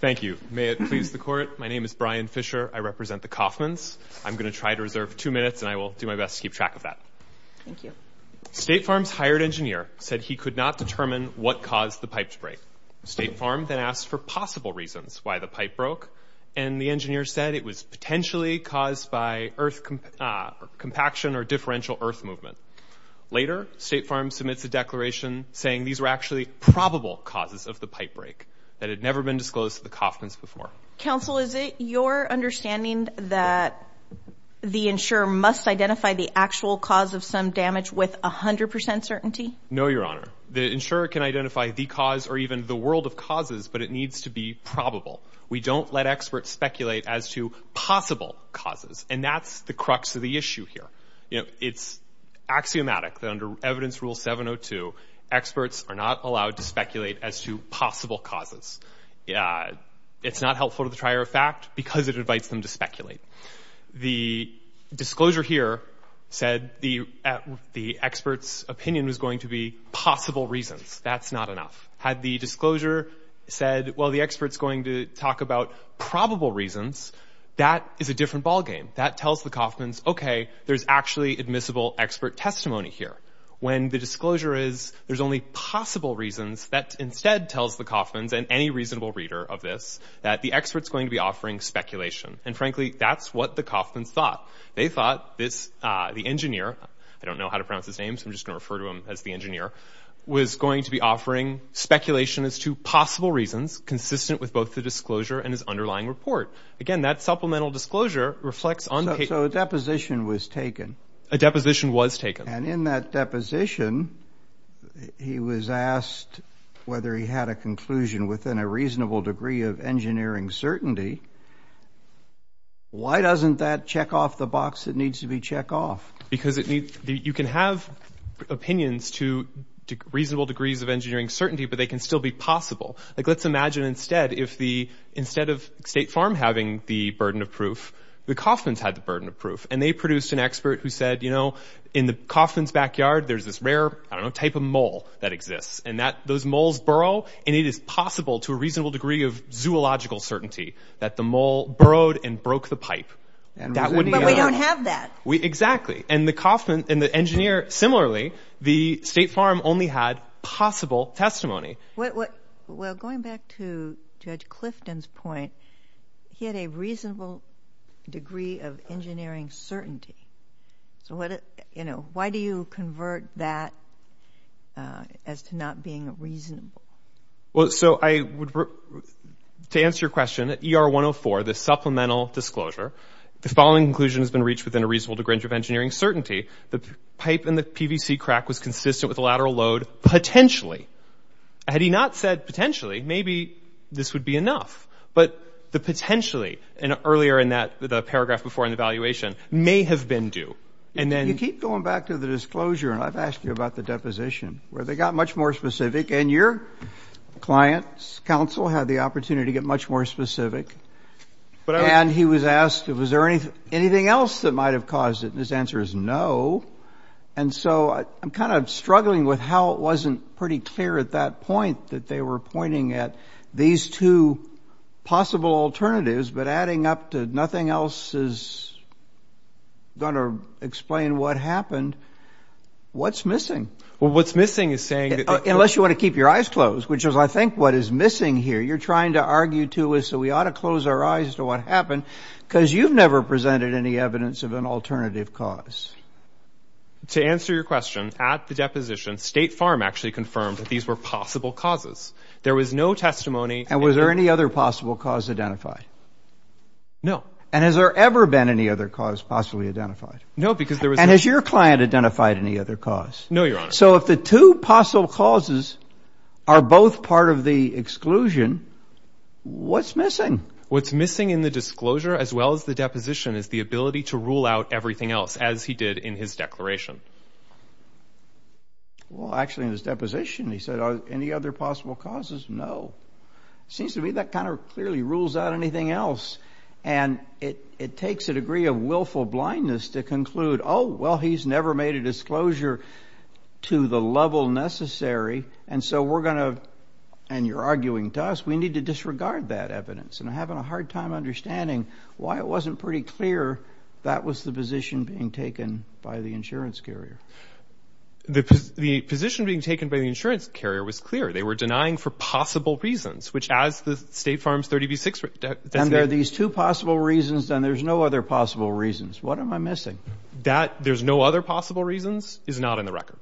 Thank you. May it please the Court, my name is Brian Fisher, I represent the Kaufmans. I'm going to try to reserve two minutes and I will do my best to keep track of that. Thank you. State Farms hired engineer said he could not determine what caused the pipe to break. State Farm then asked for possible reasons why the pipe broke and the engineer said it was potentially caused by earth compaction or differential earth movement. Later, State Farm submits a declaration saying these were actually probable causes of the pipe break that had never been disclosed to the Kaufmans before. Counsel, is it your understanding that the insurer must identify the actual cause of some damage with 100% certainty? No, Your Honor. The insurer can identify the cause or even the world of causes, but it needs to be probable. We don't let experts speculate as to possible causes and that's the crux of the issue here. You know, it's axiomatic that under Evidence Rule 702, experts are not allowed to speculate as to possible causes. It's not helpful to the trier of fact because it invites them to speculate. The disclosure here said the expert's opinion was going to be possible reasons. That's not enough. Had the disclosure said, well, the expert's going to talk about probable reasons, that is a different ballgame. That tells the Kaufmans, okay, there's actually admissible expert testimony here. When the disclosure is there's only possible reasons, that instead tells the Kaufmans and any reasonable reader of this that the expert's going to be offering speculation. And frankly, that's what the Kaufmans thought. They thought this, the engineer, I don't know how to pronounce his name, so I'm just going to refer to him as the engineer, was going to be offering speculation as to possible reasons consistent with both the disclosure and his underlying report. Again, that supplemental disclosure reflects on paper. So a deposition was taken. A deposition was taken. And in that deposition, he was asked whether he had a conclusion within a reasonable degree of engineering certainty. Why doesn't that check off the box that needs to be checked off? Because you can have opinions to reasonable degrees of engineering certainty, but they can still be possible. Like let's imagine instead if the, instead of State Farm having the burden of proof, the Kaufmans had the burden of proof. And they produced an expert who said, you know, in the Kaufmans' backyard there's this rare, I don't know, type of mole that exists. And those moles burrow, and it is possible to a reasonable degree of zoological certainty that the mole burrowed and broke the pipe. But we don't have that. Exactly. And the engineer, similarly, the State Farm only had possible testimony. Well, going back to Judge Clifton's point, he had a reasonable degree of engineering certainty. So what, you know, why do you convert that as to not being reasonable? Well, so I would, to answer your question, ER-104, the supplemental disclosure, the following conclusion has been reached within a reasonable degree of engineering certainty. The pipe in the PVC crack was consistent with the lateral load potentially. Had he not said potentially, maybe this would be enough. But the potentially, and earlier in that, the paragraph before in the evaluation, may have been due. And then you keep going back to the disclosure, and I've asked you about the deposition, where they got much more specific. And your client's counsel had the opportunity to get much more specific. And he was asked, was there anything else that might have caused it? And his answer is no. And so I'm kind of struggling with how it wasn't pretty clear at that point that they were pointing at these two possible alternatives, but adding up to nothing else is going to explain what happened. What's missing? Well, what's missing is saying that they — Unless you want to keep your eyes closed, which is, I think, what is missing here. You're trying to argue to us that we ought to close our eyes to what happened, because you've never presented any evidence of an alternative cause. To answer your question, at the deposition, State Farm actually confirmed that these were possible causes. There was no testimony. And was there any other possible cause identified? No. And has there ever been any other cause possibly identified? No, because there was no — And has your client identified any other cause? No, Your Honor. So if the two possible causes are both part of the exclusion, what's missing? What's missing in the disclosure as well as the deposition is the ability to rule out everything else, as he did in his declaration. Well, actually, in his deposition, he said, are there any other possible causes? No. It seems to me that kind of clearly rules out anything else. And it takes a degree of willful blindness to conclude, oh, well, he's never made a disclosure to the level necessary, and so we're going to — and you're arguing to us, we need to disregard that evidence. And I'm having a hard time understanding why it wasn't pretty clear that was the position being taken by the insurance carrier. The position being taken by the insurance carrier was clear. They were denying for possible reasons, which, as the State Farm's 30B-6 — And there are these two possible reasons, and there's no other possible reasons. What am I missing? That there's no other possible reasons is not in the record.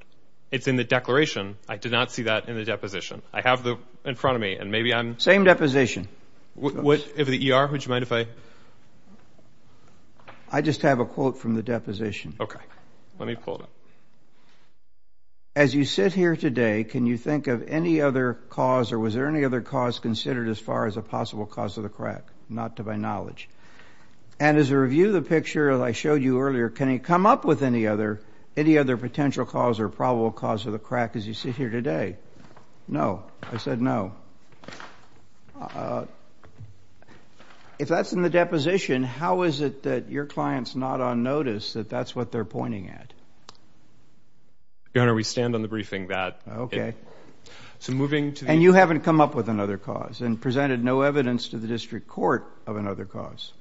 It's in the declaration. I did not see that in the deposition. I have it in front of me, and maybe I'm — Same deposition. If the ER, would you mind if I — I just have a quote from the deposition. Okay. Let me pull it up. As you sit here today, can you think of any other cause, or was there any other cause, considered as far as a possible cause of the crack? Not to my knowledge. And as a review of the picture that I showed you earlier, can you come up with any other potential cause or probable cause of the crack as you sit here today? No. I said no. If that's in the deposition, how is it that your client's not on notice, that that's what they're pointing at? Your Honor, we stand on the briefing that — So moving to the — And you haven't come up with another cause and presented no evidence to the District Court of another cause.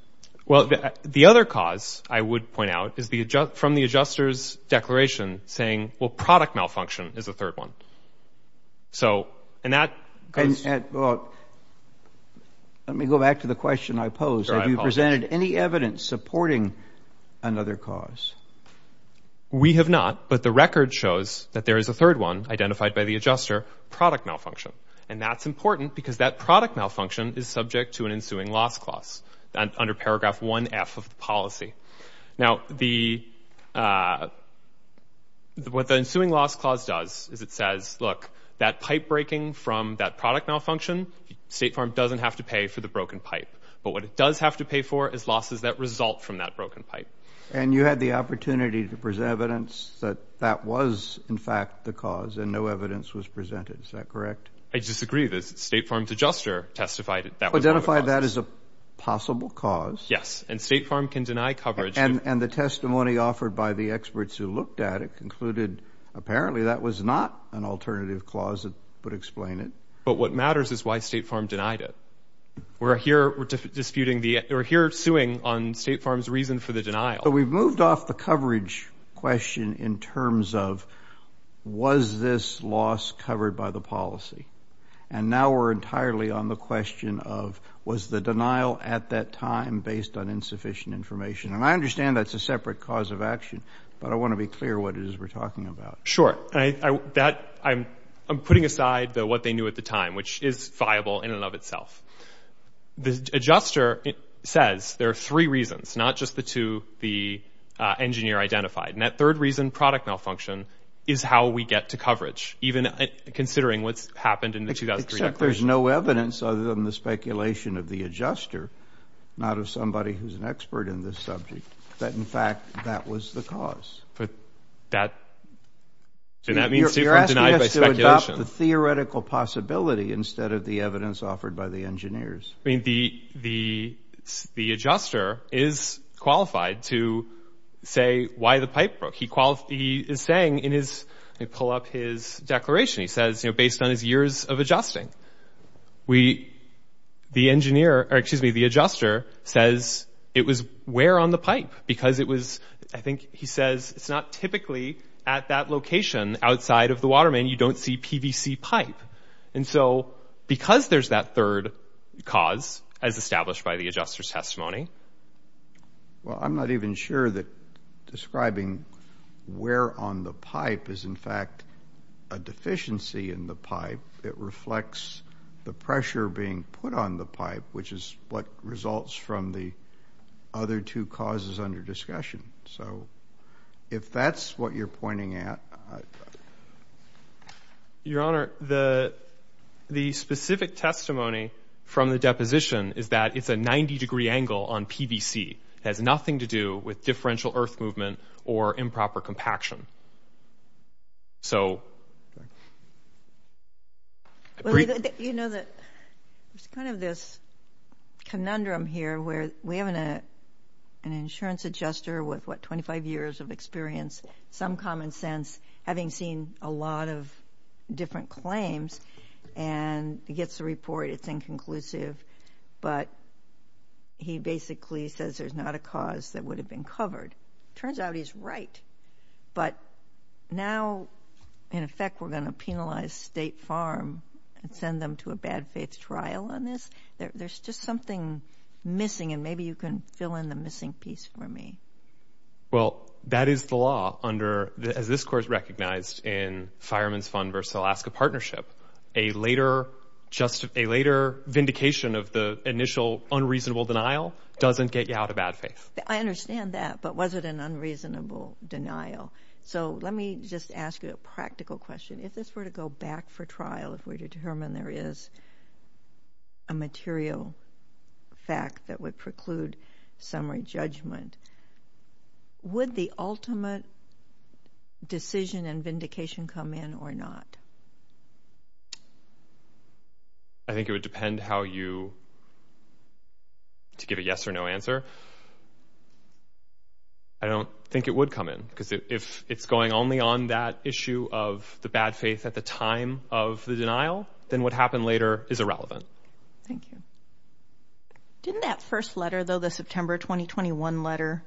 Well, the other cause, I would point out, is from the adjuster's declaration saying, well, product malfunction is the third one. So, and that — Well, let me go back to the question I posed. Sure, I apologize. Have you presented any evidence supporting another cause? We have not, but the record shows that there is a third one, identified by the adjuster, product malfunction. And that's important because that product malfunction is subject to an ensuing loss clause, under paragraph 1F of the policy. Now, the — what the ensuing loss clause does is it says, look, that pipe breaking from that product malfunction, State Farm doesn't have to pay for the broken pipe. But what it does have to pay for is losses that result from that broken pipe. And you had the opportunity to present evidence that that was, in fact, the cause, and no evidence was presented. Is that correct? I disagree. The State Farm's adjuster testified that — Identified that as a possible cause. Yes. And State Farm can deny coverage. And the testimony offered by the experts who looked at it concluded, apparently that was not an alternative clause that would explain it. But what matters is why State Farm denied it. We're here disputing the — we're here suing on State Farm's reason for the denial. But we've moved off the coverage question in terms of, was this loss covered by the policy? And now we're entirely on the question of, was the denial at that time based on insufficient information? And I understand that's a separate cause of action, but I want to be clear what it is we're talking about. Sure. That — I'm putting aside what they knew at the time, which is viable in and of itself. The adjuster says there are three reasons, not just the two the engineer identified. And that third reason, product malfunction, is how we get to coverage, even considering what's happened in the 2003 declaration. Except there's no evidence other than the speculation of the adjuster, not of somebody who's an expert in this subject, that, in fact, that was the cause. But that — and that means State Farm denied by speculation. You're asking us to adopt the theoretical possibility instead of the evidence offered by the engineers. I mean, the adjuster is qualified to say why the pipe broke. He is saying in his — let me pull up his declaration. He says, you know, based on his years of adjusting, we — the engineer — or, excuse me, the adjuster says it was wear on the pipe because it was — I think he says it's not typically at that location outside of the water main. You don't see PVC pipe. And so because there's that third cause, as established by the adjuster's testimony — Well, I'm not even sure that describing wear on the pipe is, in fact, a deficiency in the pipe. It reflects the pressure being put on the pipe, which is what results from the other two causes under discussion. So if that's what you're pointing at — Your Honor, the specific testimony from the deposition is that it's a 90-degree angle on PVC. It has nothing to do with differential earth movement or improper compaction. So — You know, there's kind of this conundrum here where we have an insurance adjuster with, what, 25 years of experience, some common sense, having seen a lot of different claims, and he gets the report, it's inconclusive, but he basically says there's not a cause that would have been covered. Turns out he's right. But now, in effect, we're going to penalize State Farm and send them to a bad-faith trial on this? There's just something missing, and maybe you can fill in the missing piece for me. Well, that is the law, as this Court has recognized in Fireman's Fund v. Alaska Partnership. A later vindication of the initial unreasonable denial doesn't get you out of bad faith. I understand that, but was it an unreasonable denial? So let me just ask you a practical question. If this were to go back for trial, if we were to determine there is a material fact that would preclude summary judgment, would the ultimate decision and vindication come in or not? I think it would depend how you—to give a yes or no answer. I don't think it would come in, because if it's going only on that issue of the bad faith at the time of the denial, then what happened later is irrelevant. Thank you. Didn't that first letter, though, the September 2021 letter,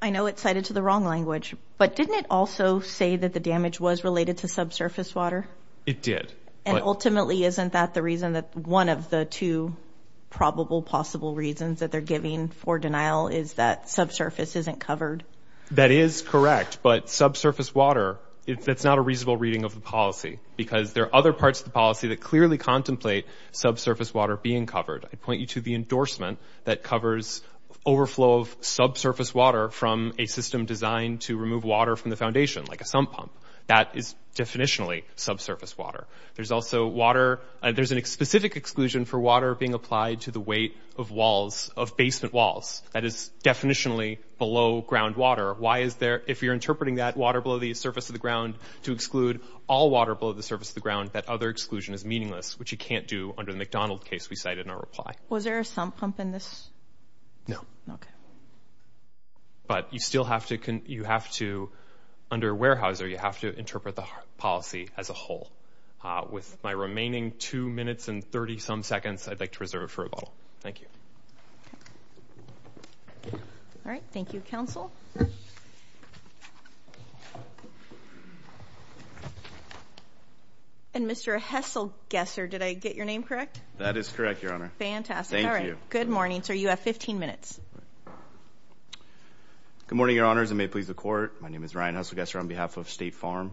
I know it's cited to the wrong language, but didn't it also say that the damage was related to subsurface water? It did. And ultimately, isn't that the reason that one of the two probable possible reasons that they're giving for denial is that subsurface isn't covered? That is correct, but subsurface water, that's not a reasonable reading of the policy, because there are other parts of the policy that clearly contemplate subsurface water being covered. I'd point you to the endorsement that covers overflow of subsurface water from a system designed to remove water from the foundation, like a sump pump. That is definitionally subsurface water. There's also water—there's a specific exclusion for water being applied to the weight of walls, of basement walls. That is definitionally below groundwater. Why is there—if you're interpreting that water below the surface of the ground to exclude all water below the surface of the ground, that other exclusion is meaningless, which you can't do under the McDonald case we cited in our reply. Was there a sump pump in this? No. Okay. But you still have to—you have to—under Weyerhaeuser, you have to interpret the policy as a whole. With my remaining two minutes and 30-some seconds, I'd like to reserve it for a bottle. Thank you. All right. Thank you, counsel. And Mr. Hesselgesser, did I get your name correct? That is correct, Your Honor. Fantastic. Thank you. All right. Good morning, sir. You have 15 minutes. Good morning, Your Honors, and may it please the Court. My name is Ryan Hesselgesser on behalf of State Farm.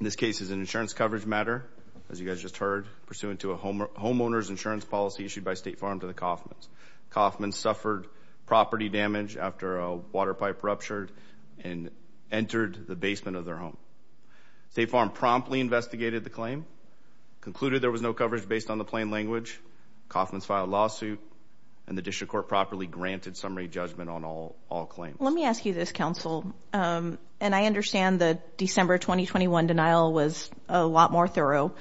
This case is an insurance coverage matter, as you guys just heard, pursuant to a homeowner's insurance policy issued by State Farm to the Coffmans. Coffmans suffered property damage after a water pipe ruptured and entered the basement of their home. State Farm promptly investigated the claim, concluded there was no coverage based on the plain language. Coffmans filed a lawsuit, and the District Court properly granted summary judgment on all claims. Let me ask you this, counsel, and I understand the December 2021 denial was a lot more thorough,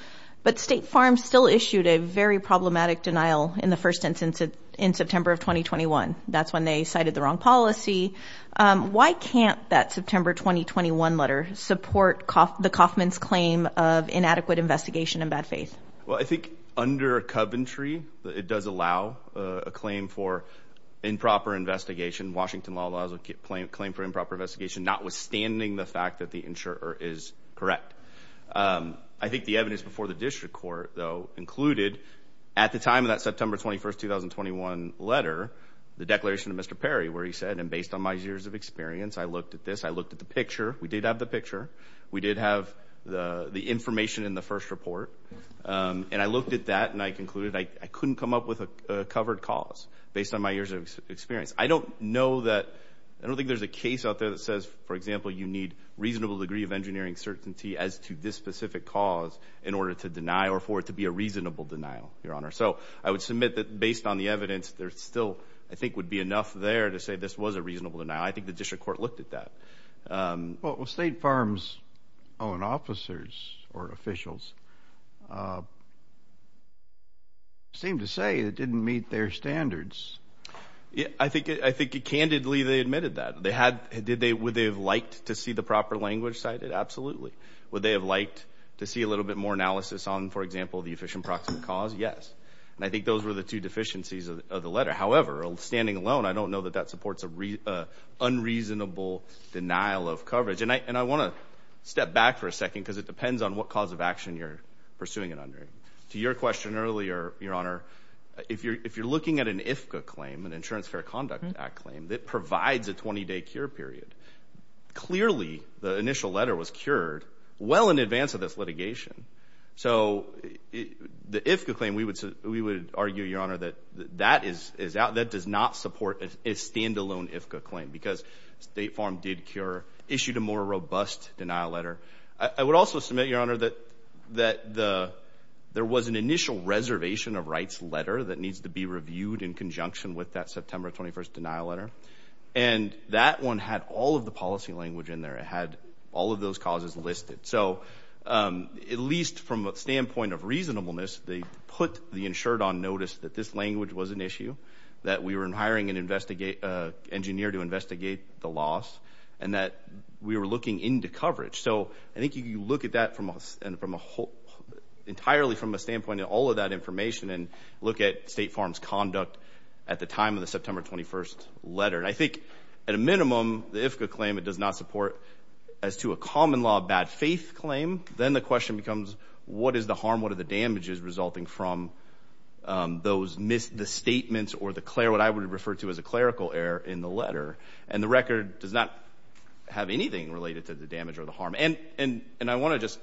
but State Farm still issued a very problematic denial in the first instance in September of 2021. That's when they cited the wrong policy. Why can't that September 2021 letter support the Coffmans' claim of inadequate investigation and bad faith? Well, I think under Coventry, it does allow a claim for improper investigation. Washington law allows a claim for improper investigation, notwithstanding the fact that the insurer is correct. I think the evidence before the District Court, though, included, at the time of that September 21, 2021 letter, the declaration of Mr. Perry, where he said, and based on my years of experience, I looked at this. I looked at the picture. We did have the picture. We did have the information in the first report. And I looked at that, and I concluded I couldn't come up with a covered cause based on my years of experience. I don't know that – I don't think there's a case out there that says, for example, you need reasonable degree of engineering certainty as to this specific cause in order to deny or for it to be a reasonable denial, Your Honor. So I would submit that based on the evidence, there still, I think, would be enough there to say this was a reasonable denial. I think the District Court looked at that. Well, state farms' own officers or officials seem to say it didn't meet their standards. I think candidly they admitted that. Would they have liked to see the proper language cited? Absolutely. Would they have liked to see a little bit more analysis on, for example, the efficient proximate cause? Yes. And I think those were the two deficiencies of the letter. However, standing alone, I don't know that that supports an unreasonable denial of coverage. And I want to step back for a second because it depends on what cause of action you're pursuing it under. To your question earlier, Your Honor, if you're looking at an IFCA claim, an Insurance Fair Conduct Act claim, that provides a 20-day cure period, clearly the initial letter was cured well in advance of this litigation. So the IFCA claim, we would argue, Your Honor, that that does not support a stand-alone IFCA claim because State Farm did cure, issued a more robust denial letter. I would also submit, Your Honor, that there was an initial reservation of rights letter that needs to be reviewed in conjunction with that September 21st denial letter. And that one had all of the policy language in there. It had all of those causes listed. So at least from a standpoint of reasonableness, they put the insured on notice that this language was an issue, that we were hiring an engineer to investigate the loss, and that we were looking into coverage. So I think you look at that entirely from a standpoint of all of that information and look at State Farm's conduct at the time of the September 21st letter. And I think at a minimum, the IFCA claim, it does not support as to a common-law bad-faith claim. Then the question becomes, what is the harm? What are the damages resulting from the statements or what I would refer to as a clerical error in the letter? And the record does not have anything related to the damage or the harm. And I want to just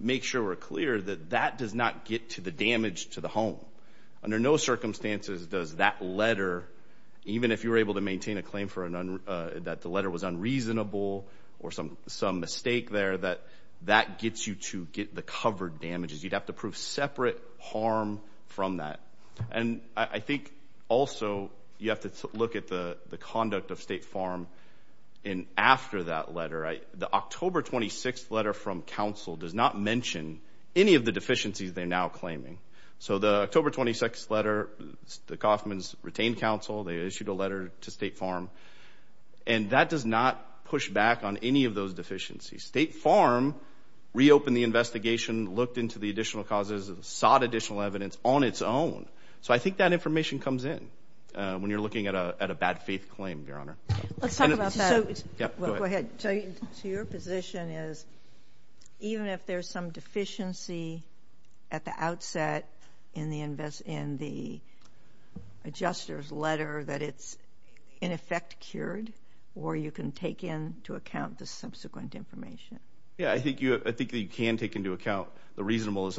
make sure we're clear that that does not get to the damage to the home. Under no circumstances does that letter, even if you were able to maintain a claim that the letter was unreasonable or some mistake there, that that gets you to get the covered damages. You'd have to prove separate harm from that. And I think also you have to look at the conduct of State Farm after that letter. The October 26th letter from counsel does not mention any of the deficiencies they're now claiming. So the October 26th letter, the Kauffman's retained counsel. They issued a letter to State Farm. And that does not push back on any of those deficiencies. State Farm reopened the investigation, looked into the additional causes, sought additional evidence on its own. So I think that information comes in when you're looking at a bad-faith claim, Your Honor. Let's talk about that. Go ahead. So your position is even if there's some deficiency at the outset in the adjuster's letter that it's in effect cured or you can take into account the subsequent information. Yeah, I think you can take into account the reasonableness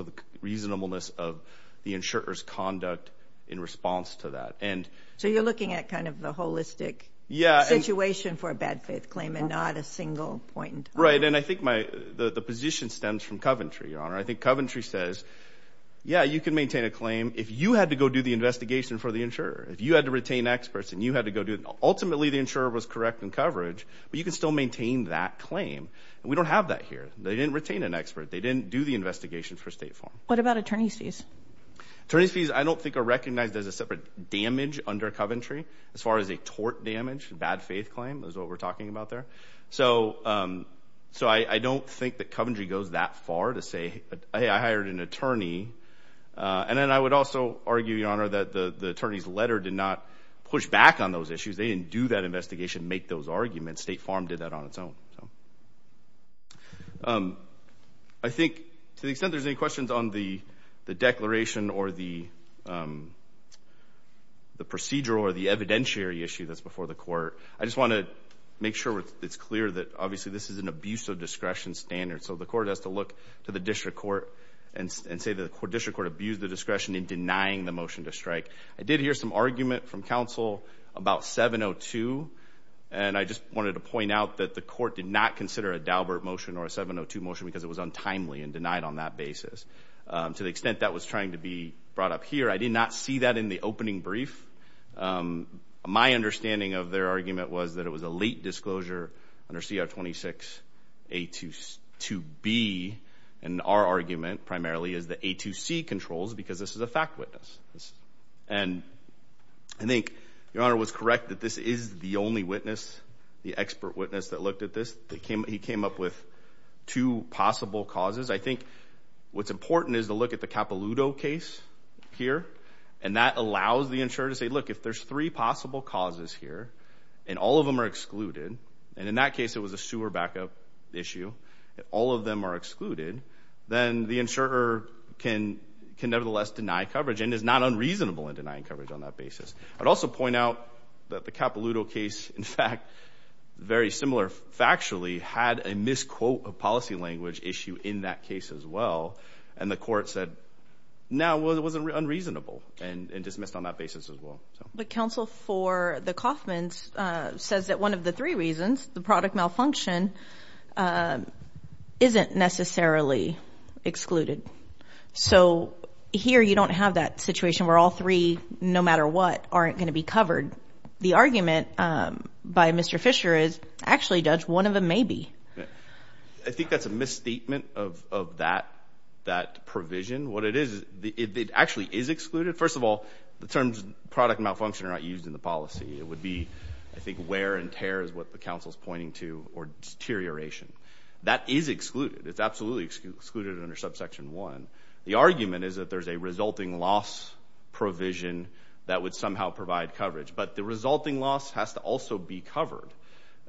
of the insurer's conduct in response to that. So you're looking at kind of the holistic situation for a bad-faith claim and not a single point in time. Right, and I think the position stems from Coventry, Your Honor. I think Coventry says, yeah, you can maintain a claim. If you had to go do the investigation for the insurer, if you had to retain experts and you had to go do it, ultimately the insurer was correct in coverage, but you can still maintain that claim. We don't have that here. They didn't retain an expert. They didn't do the investigation for State Farm. What about attorney's fees? Attorney's fees I don't think are recognized as a separate damage under Coventry as far as a tort damage, a bad-faith claim is what we're talking about there. So I don't think that Coventry goes that far to say, hey, I hired an attorney. And then I would also argue, Your Honor, that the attorney's letter did not push back on those issues. They didn't do that investigation, make those arguments. State Farm did that on its own. I think to the extent there's any questions on the declaration or the procedural or the evidentiary issue that's before the court, I just want to make sure it's clear that obviously this is an abuse of discretion standard. So the court has to look to the district court and say the district court abused the discretion in denying the motion to strike. I did hear some argument from counsel about 702, and I just wanted to point out that the court did not consider a Daubert motion or a 702 motion because it was untimely and denied on that basis. To the extent that was trying to be brought up here, I did not see that in the opening brief. My understanding of their argument was that it was a late disclosure under CR 26A2B, and our argument primarily is that A2C controls because this is a fact witness. And I think Your Honor was correct that this is the only witness, the expert witness, that looked at this. He came up with two possible causes. I think what's important is to look at the Capilouto case here, and that allows the insurer to say, look, if there's three possible causes here and all of them are excluded, and in that case it was a sewer backup issue, all of them are excluded, then the insurer can nevertheless deny coverage and is not unreasonable in denying coverage on that basis. I'd also point out that the Capilouto case, in fact, very similar factually, had a misquote of policy language issue in that case as well, and the court said, no, it was unreasonable and dismissed on that basis as well. But counsel for the Coffman's says that one of the three reasons, the product malfunction, isn't necessarily excluded. So here you don't have that situation where all three, no matter what, aren't going to be covered. The argument by Mr. Fisher is actually, Judge, one of them may be. I think that's a misstatement of that provision. What it is, it actually is excluded. First of all, the terms product malfunction are not used in the policy. It would be, I think, wear and tear is what the counsel's pointing to, or deterioration. That is excluded. It's absolutely excluded under subsection 1. The argument is that there's a resulting loss provision that would somehow provide coverage, but the resulting loss has to also be covered,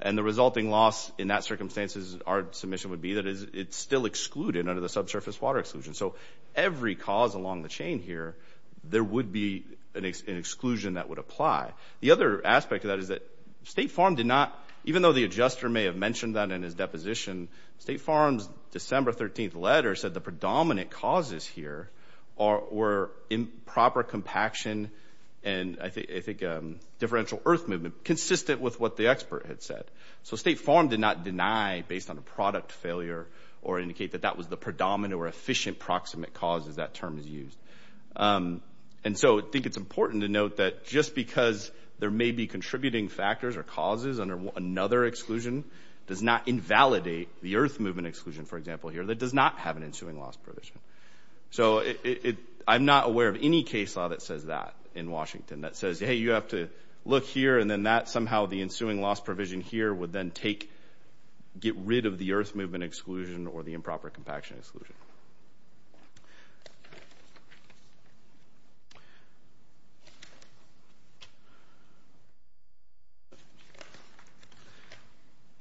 and the resulting loss in that circumstances, our submission would be that it's still excluded under the subsurface water exclusion. So every cause along the chain here, there would be an exclusion that would apply. The other aspect of that is that State Farm did not, even though the adjuster may have mentioned that in his deposition, State Farm's December 13th letter said the predominant causes here were improper compaction and I think differential earth movement consistent with what the expert had said. So State Farm did not deny based on a product failure or indicate that that was the predominant or efficient proximate causes that term is used. And so I think it's important to note that just because there may be contributing factors or causes under another exclusion does not invalidate the earth movement exclusion, for example, here that does not have an ensuing loss provision. So I'm not aware of any case law that says that in Washington, that says, hey, you have to look here and then that somehow the ensuing loss provision here would then get rid of the earth movement exclusion or the improper compaction exclusion.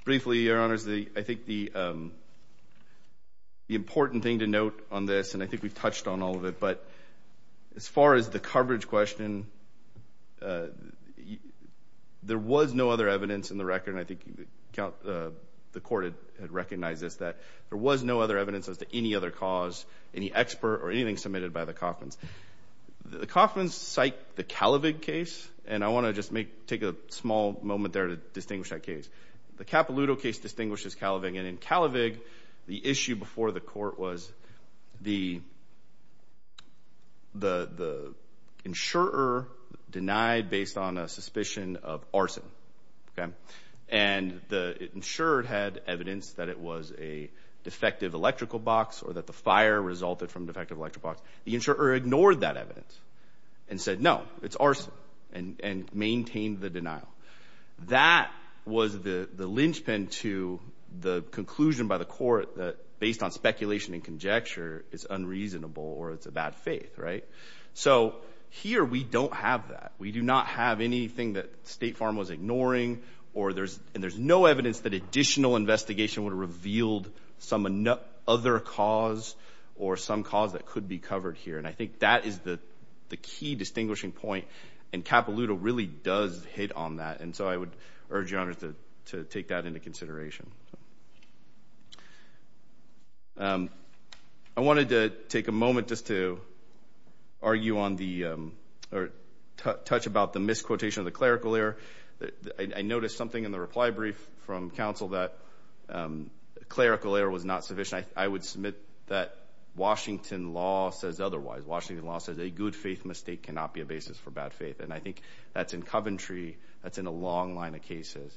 Briefly, Your Honors, I think the important thing to note on this, and I think we've touched on all of it, but as far as the coverage question, there was no other evidence in the record, and I think the Court had recognized this, that there was no other evidence as to any other coverage question or anything submitted by the Coffman's. The Coffman's cite the Calavig case, and I want to just take a small moment there to distinguish that case. The Capilouto case distinguishes Calavig, and in Calavig, the issue before the Court was the insurer denied based on a suspicion of arson. And the insurer had evidence that it was a defective electrical box or that the fire resulted from a defective electrical box. The insurer ignored that evidence and said, no, it's arson, and maintained the denial. That was the linchpin to the conclusion by the Court that based on speculation and conjecture, it's unreasonable or it's a bad faith. So here we don't have that. We do not have anything that State Farm was ignoring, and there's no evidence that additional investigation would have revealed some other cause or some cause that could be covered here. And I think that is the key distinguishing point, and Capilouto really does hit on that, and so I would urge Your Honor to take that into consideration. I wanted to take a moment just to argue on the or touch about the misquotation of the clerical error. I noticed something in the reply brief from counsel that clerical error was not sufficient. I would submit that Washington law says otherwise. Washington law says a good faith mistake cannot be a basis for bad faith, and I think that's in Coventry. That's in a long line of cases.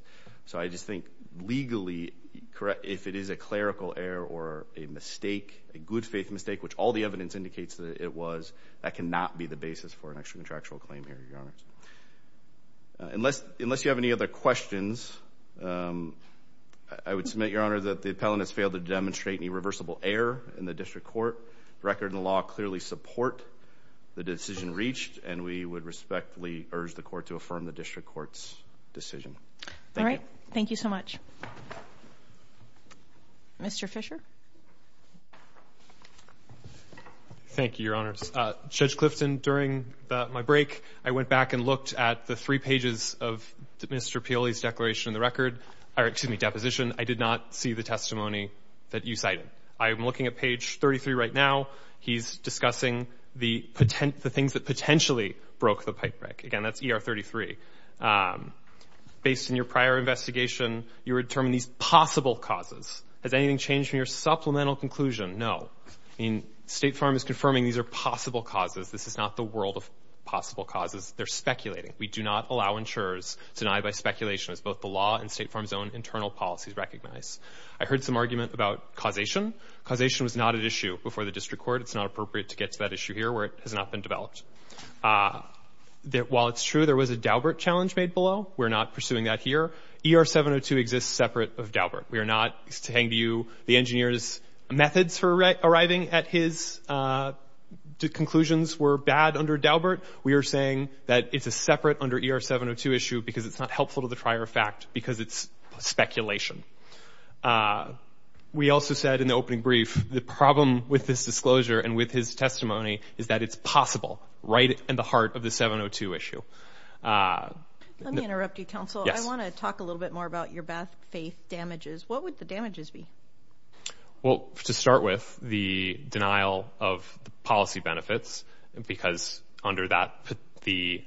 So I just think legally, if it is a clerical error or a mistake, a good faith mistake, which all the evidence indicates that it was, that cannot be the basis for an extracontractual claim here, Your Honor. Unless you have any other questions, I would submit, Your Honor, that the appellant has failed to demonstrate any reversible error in the district court. The record and the law clearly support the decision reached, and we would respectfully urge the Court to affirm the district court's decision. Thank you. Thank you so much. Mr. Fisher. Thank you, Your Honors. Judge Clifton, during my break, I went back and looked at the three pages of Mr. Peoli's declaration in the record, or excuse me, deposition. I did not see the testimony that you cited. I am looking at page 33 right now. He's discussing the things that potentially broke the pipe break. Again, that's ER 33. Based on your prior investigation, you determined these possible causes. Has anything changed from your supplemental conclusion? No. State Farm is confirming these are possible causes. This is not the world of possible causes. They're speculating. We do not allow insurers to deny by speculation, as both the law and State Farm's own internal policies recognize. I heard some argument about causation. Causation was not an issue before the district court. It's not appropriate to get to that issue here where it has not been developed. While it's true there was a Daubert challenge made below, we're not pursuing that here. ER 702 exists separate of Daubert. We are not saying to you the engineer's methods for arriving at his conclusions were bad under Daubert. We are saying that it's a separate under ER 702 issue because it's not helpful to the prior fact because it's speculation. We also said in the opening brief the problem with this disclosure and with his testimony is that it's possible right in the heart of the 702 issue. Let me interrupt you, counsel. Yes. I want to talk a little bit more about your bad faith damages. What would the damages be? Well, to start with, the denial of policy benefits because under that the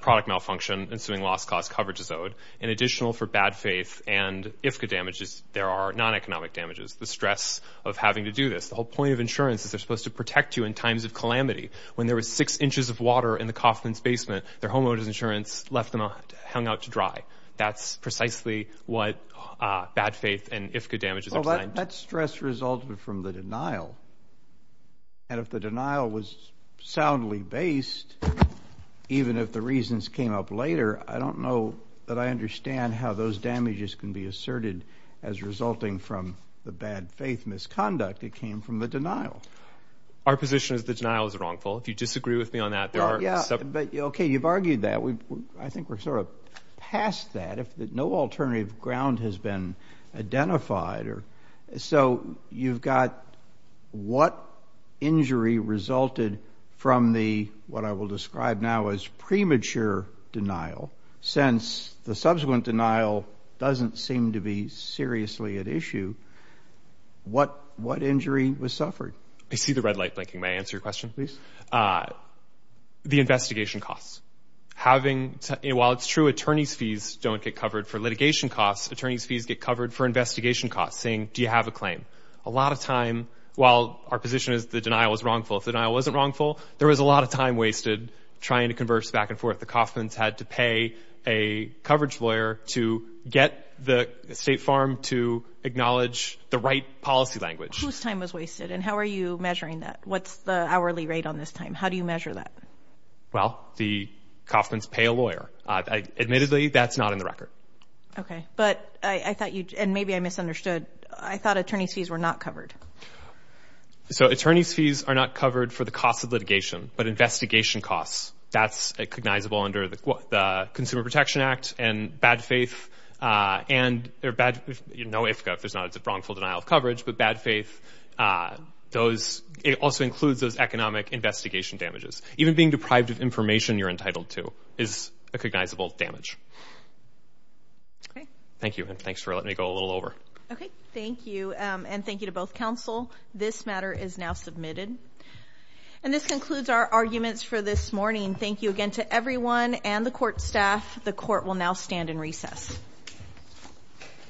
product malfunction, ensuing lost cost coverage is owed. In additional for bad faith and IFCA damages, there are non-economic damages. The stress of having to do this. The whole point of insurance is they're supposed to protect you in times of calamity. When there was six inches of water in the Coffman's basement, their homeowners insurance left them hung out to dry. That's precisely what bad faith and IFCA damages are designed to do. Well, that stress resulted from the denial. And if the denial was soundly based, even if the reasons came up later, I don't know that I understand how those damages can be asserted as resulting from the bad faith misconduct. It came from the denial. Our position is the denial is wrongful. If you disagree with me on that, there are some. Okay. You've argued that. I think we're sort of past that. No alternative ground has been identified. So you've got what injury resulted from the, what I will describe now as premature denial. Since the subsequent denial doesn't seem to be seriously at issue, what injury was suffered? I see the red light blinking. May I answer your question, please? The investigation costs. While it's true attorney's fees don't get covered for litigation costs, attorney's fees get covered for investigation costs, saying, do you have a claim? A lot of time, while our position is the denial is wrongful, if the denial wasn't wrongful, there was a lot of time wasted trying to converse back and forth. The Coffman's had to pay a coverage lawyer to get the State Farm to acknowledge the right policy language. Whose time was wasted, and how are you measuring that? What's the hourly rate on this time? How do you measure that? Well, the Coffman's pay a lawyer. Admittedly, that's not in the record. Okay. But I thought you, and maybe I misunderstood, I thought attorney's fees were not covered. So attorney's fees are not covered for the cost of litigation, but investigation costs. That's recognizable under the Consumer Protection Act and bad faith. And there are bad, no if, if, there's not, it's a wrongful denial of coverage, but bad faith. Those, it also includes those economic investigation damages. Even being deprived of information you're entitled to is a recognizable damage. Okay. Thank you, and thanks for letting me go a little over. Okay. Thank you, and thank you to both counsel. This matter is now submitted. And this concludes our arguments for this morning. Thank you again to everyone and the court staff. The court will now stand in recess.